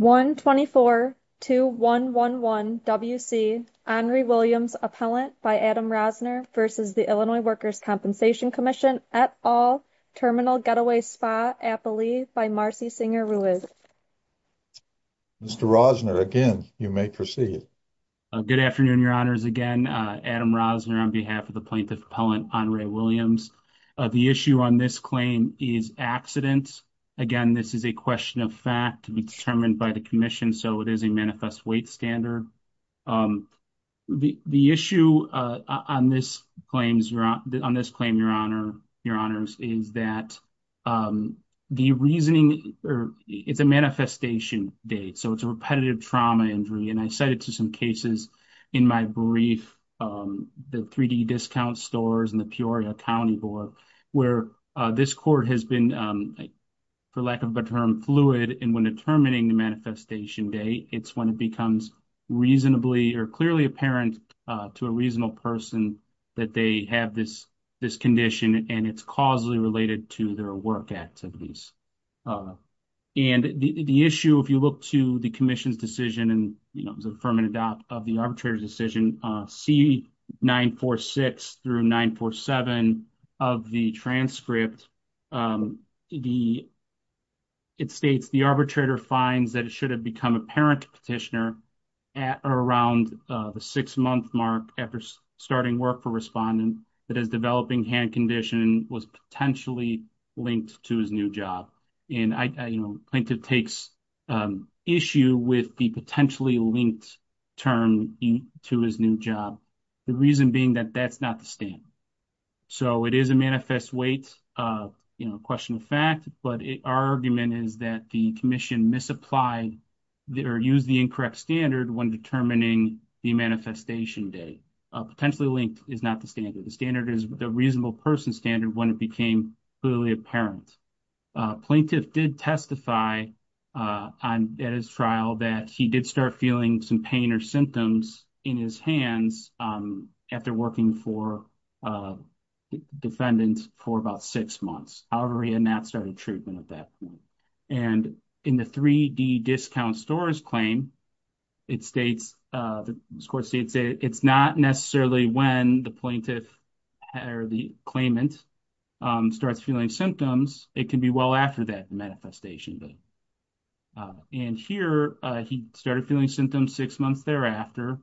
124-2111 WC. Henri Williams, Appellant by Adam Rosner v. The Illinois Workers' Compensation Comm'n et al. Terminal Getaway Spa, Appalee by Marcy Singer-Ruiz. Mr. Rosner, again, you may proceed. Good afternoon, Your Honors. Again, Adam Rosner on behalf of the Plaintiff Appellant, Henri Williams. The issue on this claim is accident. Again, this is a question of fact to be determined by the Commission, so it is a manifest weight standard. The issue on this claim, Your Honors, is that the reasoning, it's a manifestation date, so it's a repetitive trauma injury. And I cited to some cases in my brief the 3D Discount Stores and the Peoria County Board where this court has been, for lack of a better term, fluid. And when determining the manifestation date, it's when it becomes reasonably or clearly apparent to a reasonable person that they have this condition and it's causally related to their work activities. And the issue, if you look to the Commission's decision, and it was an affirmative doubt of the arbitrator's decision, C-946 through 947 of the transcript, it states the arbitrator finds that it should have become apparent to petitioner around the six-month mark after starting work for respondent that his developing hand condition was potentially linked to his new job. And plaintiff takes issue with the potentially linked term to his new job, the reason being that that's not the standard. So it is a manifest weight, question of fact, but our argument is that the Commission misapplied or used the incorrect standard when determining the manifestation date. Potentially linked is not the standard. The standard is the reasonable person standard when it became clearly apparent. Plaintiff did testify at his trial that he did start feeling some pain or symptoms in his hands after working for defendants for about six months. However, he had not started treatment at that point. And in the 3D discount store's claim, it states, the score states it's not necessarily when the plaintiff or the claimant starts feeling symptoms. It can be well after that manifestation. And here, he started feeling symptoms six months thereafter.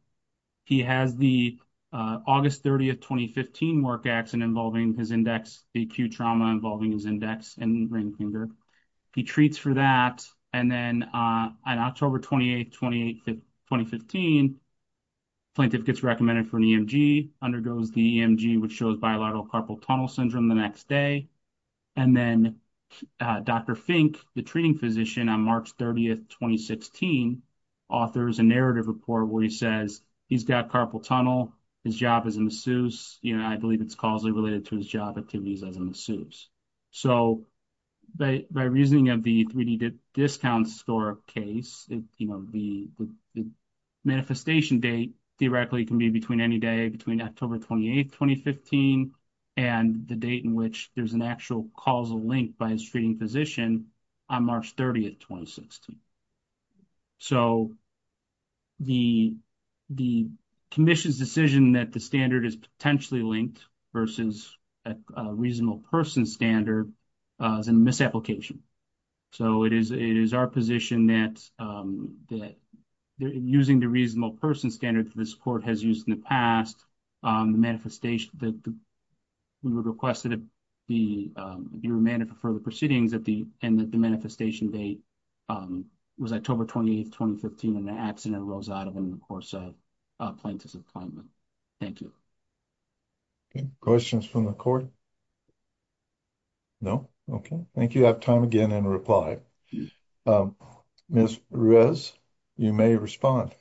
He has the August 30, 2015 work accident involving his index, the acute trauma involving his index and ring finger. He treats for that. And then on October 28, 2015, plaintiff gets recommended for an EMG, undergoes the EMG, which shows bilateral carpal tunnel syndrome the next day. And then Dr. Fink, the treating physician, on March 30, 2016, authors a narrative report where he says he's got carpal tunnel, his job is a masseuse. I believe it's causally related to job activities as a masseuse. So, by reasoning of the 3D discount store case, the manifestation date theoretically can be between any day between October 28, 2015 and the date in which there's an actual causal link by his treating physician on March 30, 2016. So, the commission's decision that the standard is potentially linked versus a reasonable person standard is a misapplication. So, it is our position that using the reasonable person standard that this court has used in the past, the manifestation that we would request that it be remanded for further proceedings at the end of the manifestation date was October 28, 2015 when the accident arose out of him, a plaintiff's appointment. Thank you. Questions from the court? No? Okay. Thank you. I have time again in reply. Ms. Ruiz, you may respond.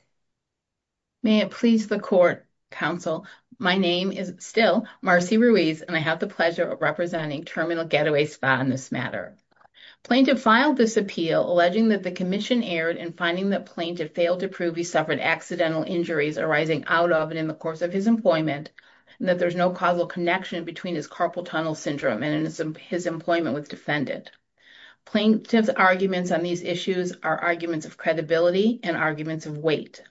May it please the court, counsel. My name is still Marcy Ruiz, and I have the pleasure of representing Terminal Getaway Spa in this matter. Plaintiff filed this appeal alleging that the Plaintiff's arguments on these issues are arguments of credibility and arguments of weight.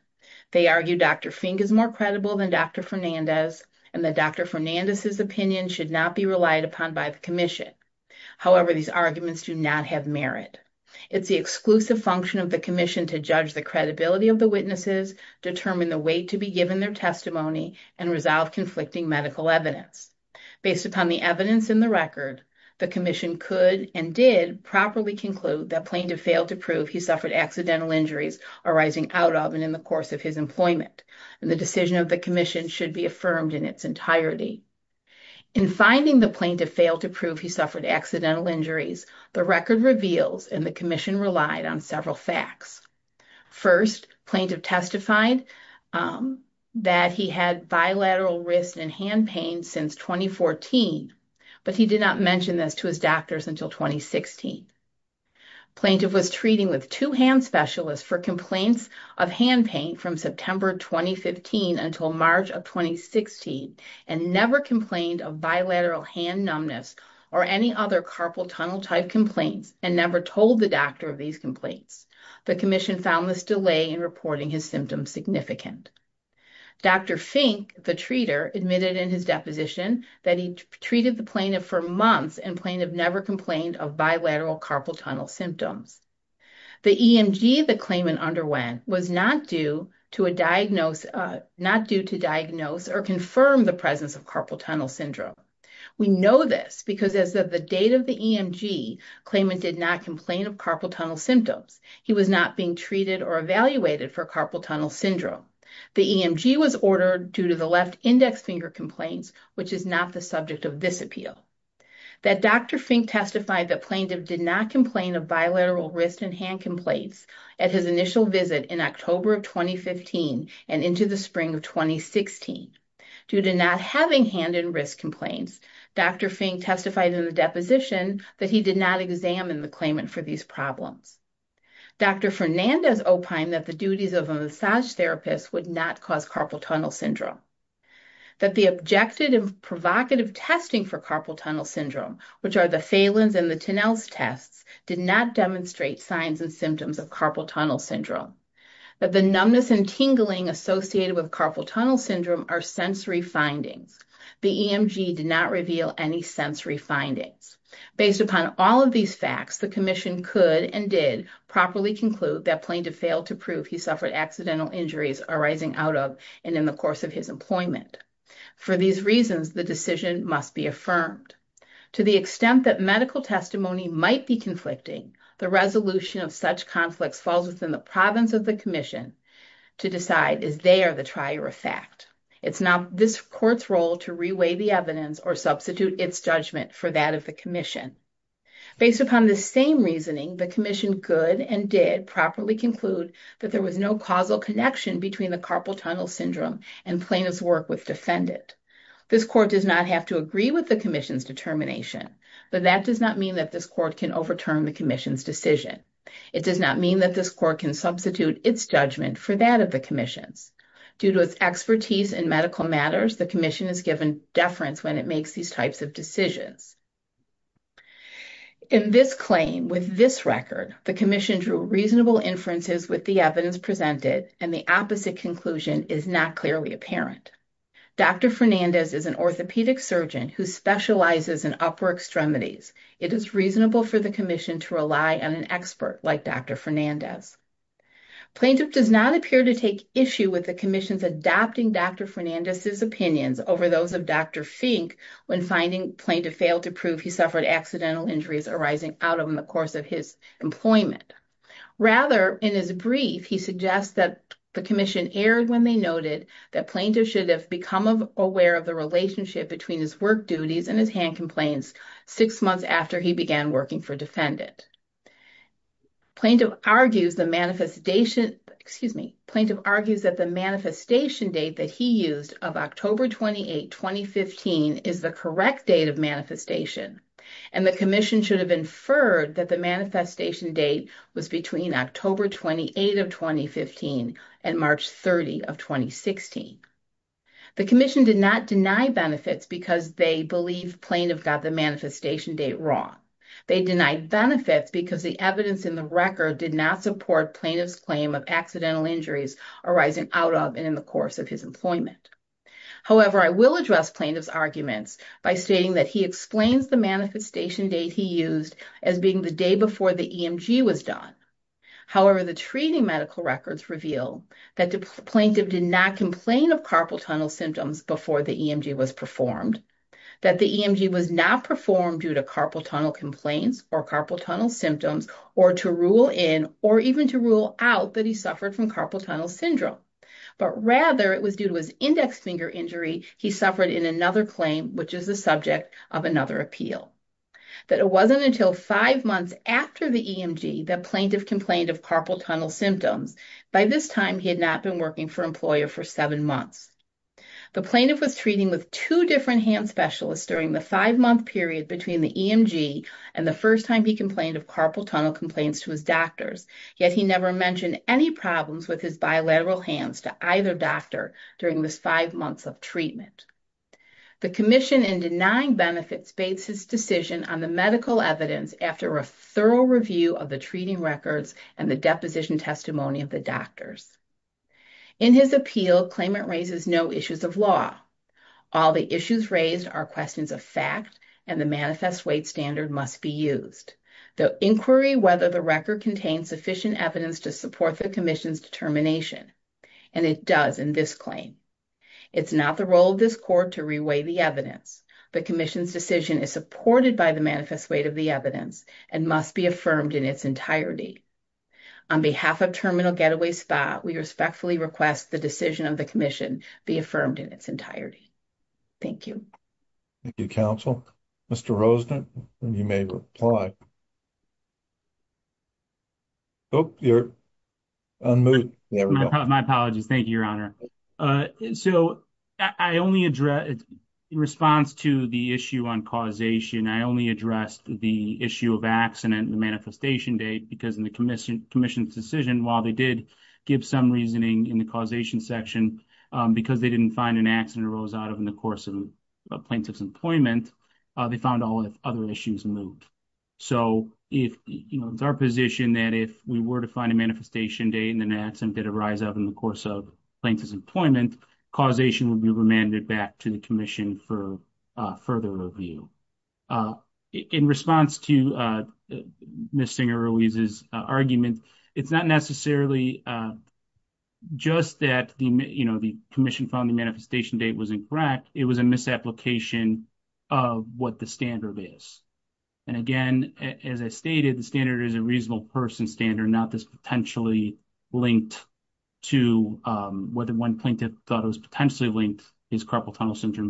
They argue Dr. Fink is more credible than Dr. Fernandez, and that Dr. Fernandez's opinion should not be relied upon by the commission. However, these arguments do not have merit. It's the exclusive function of the commission to judge the credibility of the witnesses, determine the weight to be given their testimony, and resolve conflicting medical evidence. Based upon the evidence in the record, the commission could and did properly conclude that Plaintiff failed to prove he suffered accidental injuries arising out of and in the course of his employment, and the decision of the commission should be affirmed in its entirety. In finding the Plaintiff failed to prove he suffered accidental injuries, the record reveals, and the commission relied on several facts. First, Plaintiff testified that he had bilateral wrist and hand pain since 2014, but he did not mention this to his doctors until 2016. Plaintiff was treating with two hand specialists for complaints of hand pain from September 2015 until March of 2016, and never complained of bilateral hand numbness or any other carpal tunnel type complaints, and never told the doctor of these complaints. The commission found this delay in reporting his symptoms significant. Dr. Fink, the treater, admitted in his deposition that he treated the Plaintiff for months and Plaintiff never complained of bilateral carpal tunnel symptoms. The EMG the claimant underwent was not due to diagnose or confirm the presence carpal tunnel syndrome. We know this because as of the date of the EMG, claimant did not complain of carpal tunnel symptoms. He was not being treated or evaluated for carpal tunnel syndrome. The EMG was ordered due to the left index finger complaints, which is not the subject of this appeal. That Dr. Fink testified that Plaintiff did not complain of bilateral wrist and hand complaints at his initial visit in October of 2015 and into the spring of 2016. Due to not having hand and wrist complaints, Dr. Fink testified in the deposition that he did not examine the claimant for these problems. Dr. Fernandez opined that the duties of a massage therapist would not cause carpal tunnel syndrome. That the objective and provocative testing for carpal tunnel syndrome, which are the Phelan's and the Tenell's tests, did not demonstrate signs and symptoms of carpal tunnel syndrome. That the numbness and tingling associated with carpal tunnel syndrome are sensory findings. The EMG did not reveal any sensory findings. Based upon all of these facts, the Commission could and did properly conclude that Plaintiff failed to prove he suffered accidental injuries arising out of and in the course of his employment. For these reasons, the decision must be affirmed. To the extent that medical testimony might be conflicting, the resolution of such conflicts falls within the province of the Commission to decide is they are the trier of fact. It's now this Court's role to reweigh the evidence or substitute its judgment for that of the Commission. Based upon the same reasoning, the Commission could and did properly conclude that there was no causal connection between the carpal tunnel syndrome and plaintiff's work with defendant. This Court does not have to agree with the Commission's determination, but that does not mean that this Court can overturn the Commission's decision. It does not mean that this Court can substitute its judgment for that of the Commission's. Due to its expertise in medical matters, the Commission is given deference when it makes these types of decisions. In this claim, with this record, the Commission drew reasonable inferences with the evidence presented and the opposite conclusion is not clearly apparent. Dr. Fernandez is an orthopedic surgeon who specializes in upper extremities. It is reasonable for the Commission to rely on an expert like Dr. Fernandez. Plaintiff does not appear to take issue with the Commission's adopting Dr. Fernandez's opinions over those of Dr. Fink when finding plaintiff failed to prove he suffered accidental injuries arising out of in the course of his employment. Rather, in his brief, he suggests that the Commission erred when they noted that plaintiff should have become aware of the relationship between his work duties and his hand complaints six months after he began working for defendant. Plaintiff argues the manifestation, excuse me, plaintiff argues that the manifestation date that he used of October 28, 2015 is the correct date of manifestation and the Commission should have inferred that the manifestation date was between October 28 of 2015 and March 30 of 2016. The Commission did not deny benefits because they believe plaintiff got the manifestation date wrong. They denied benefits because the evidence in the record did not support plaintiff's claim of accidental injuries arising out of and in the course of his employment. However, I will address plaintiff's arguments by stating that he explains the manifestation date he used as being the day before the EMG was done. However, the treating medical records reveal that the plaintiff did not complain of carpal tunnel symptoms before the EMG was performed. That the EMG was not performed due to carpal tunnel complaints or carpal tunnel symptoms or to rule in or even to rule out that he suffered from carpal tunnel syndrome. But rather, it was due to his index finger injury he suffered in another claim, which is the subject of another appeal. That it wasn't until five months after the EMG that plaintiff complained of carpal tunnel symptoms. By this time, he had not been working for employer for seven months. The plaintiff was treating with two different hand specialists during the five-month period between the EMG and the first time he complained of carpal tunnel complaints to his doctors, yet he never mentioned any problems with his bilateral hands to either doctor during this five months of treatment. The Commission in denying benefits bates his decision on the medical evidence after a thorough review of the treating records and the deposition testimony of the doctors. In his appeal, claimant raises no issues of law. All the issues raised are questions of fact and the manifest weight standard must be used. The inquiry whether the record contains sufficient evidence to support the Commission's determination and it does in this claim. It's not the role of this court to reweigh the evidence. The Commission's decision is supported by the getaway spot. We respectfully request the decision of the Commission be affirmed in its entirety. Thank you. Thank you, counsel. Mr. Rosner, you may reply. Oh, you're on mute. My apologies. Thank you, your honor. So, I only address in response to the issue on causation, I only addressed the issue of accident and the manifestation date because in Commission's decision, while they did give some reasoning in the causation section because they didn't find an accident arose out of in the course of plaintiff's employment, they found all other issues moved. So, it's our position that if we were to find a manifestation date and an accident did arise out in the course of plaintiff's employment, causation would be remanded back the Commission for further review. In response to Ms. Singer-Ruiz's argument, it's not necessarily just that the, you know, the Commission found the manifestation date was incorrect, it was a misapplication of what the standard is. And again, as I stated, the standard is a reasonable person standard, not this potentially linked to whether one plaintiff thought it was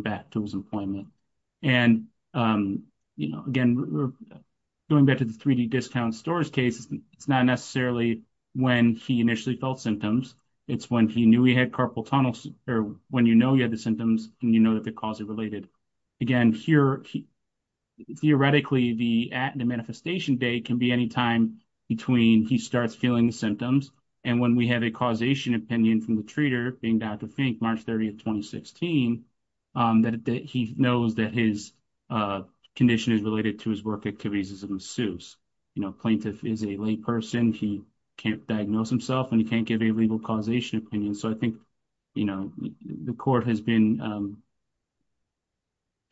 back to his employment. And, you know, again, going back to the 3D discount stores case, it's not necessarily when he initially felt symptoms, it's when he knew he had carpal tunnel, or when you know you had the symptoms and you know that the cause is related. Again, here, theoretically, the manifestation date can be any time between he starts feeling the symptoms and when we have a causation opinion from the treater, being Dr. Fink, March 30, 2016, that he knows that his condition is related to his work activities as a masseuse. You know, plaintiff is a layperson, he can't diagnose himself and he can't give a legal causation opinion. So I think, you know, the Court has been,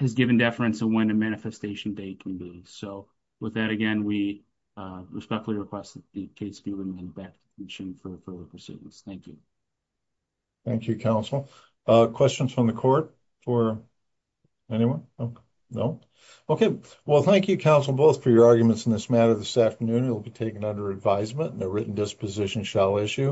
has given deference to when a manifestation date can be. So with that, again, we respectfully request that the case be remanded back to the Commission for further pursuance. Thank you. Thank you, counsel. Questions from the Court or anyone? No? Okay. Well, thank you, counsel, both for your arguments in this matter this afternoon. It will be taken under advisement and a written disposition shall issue.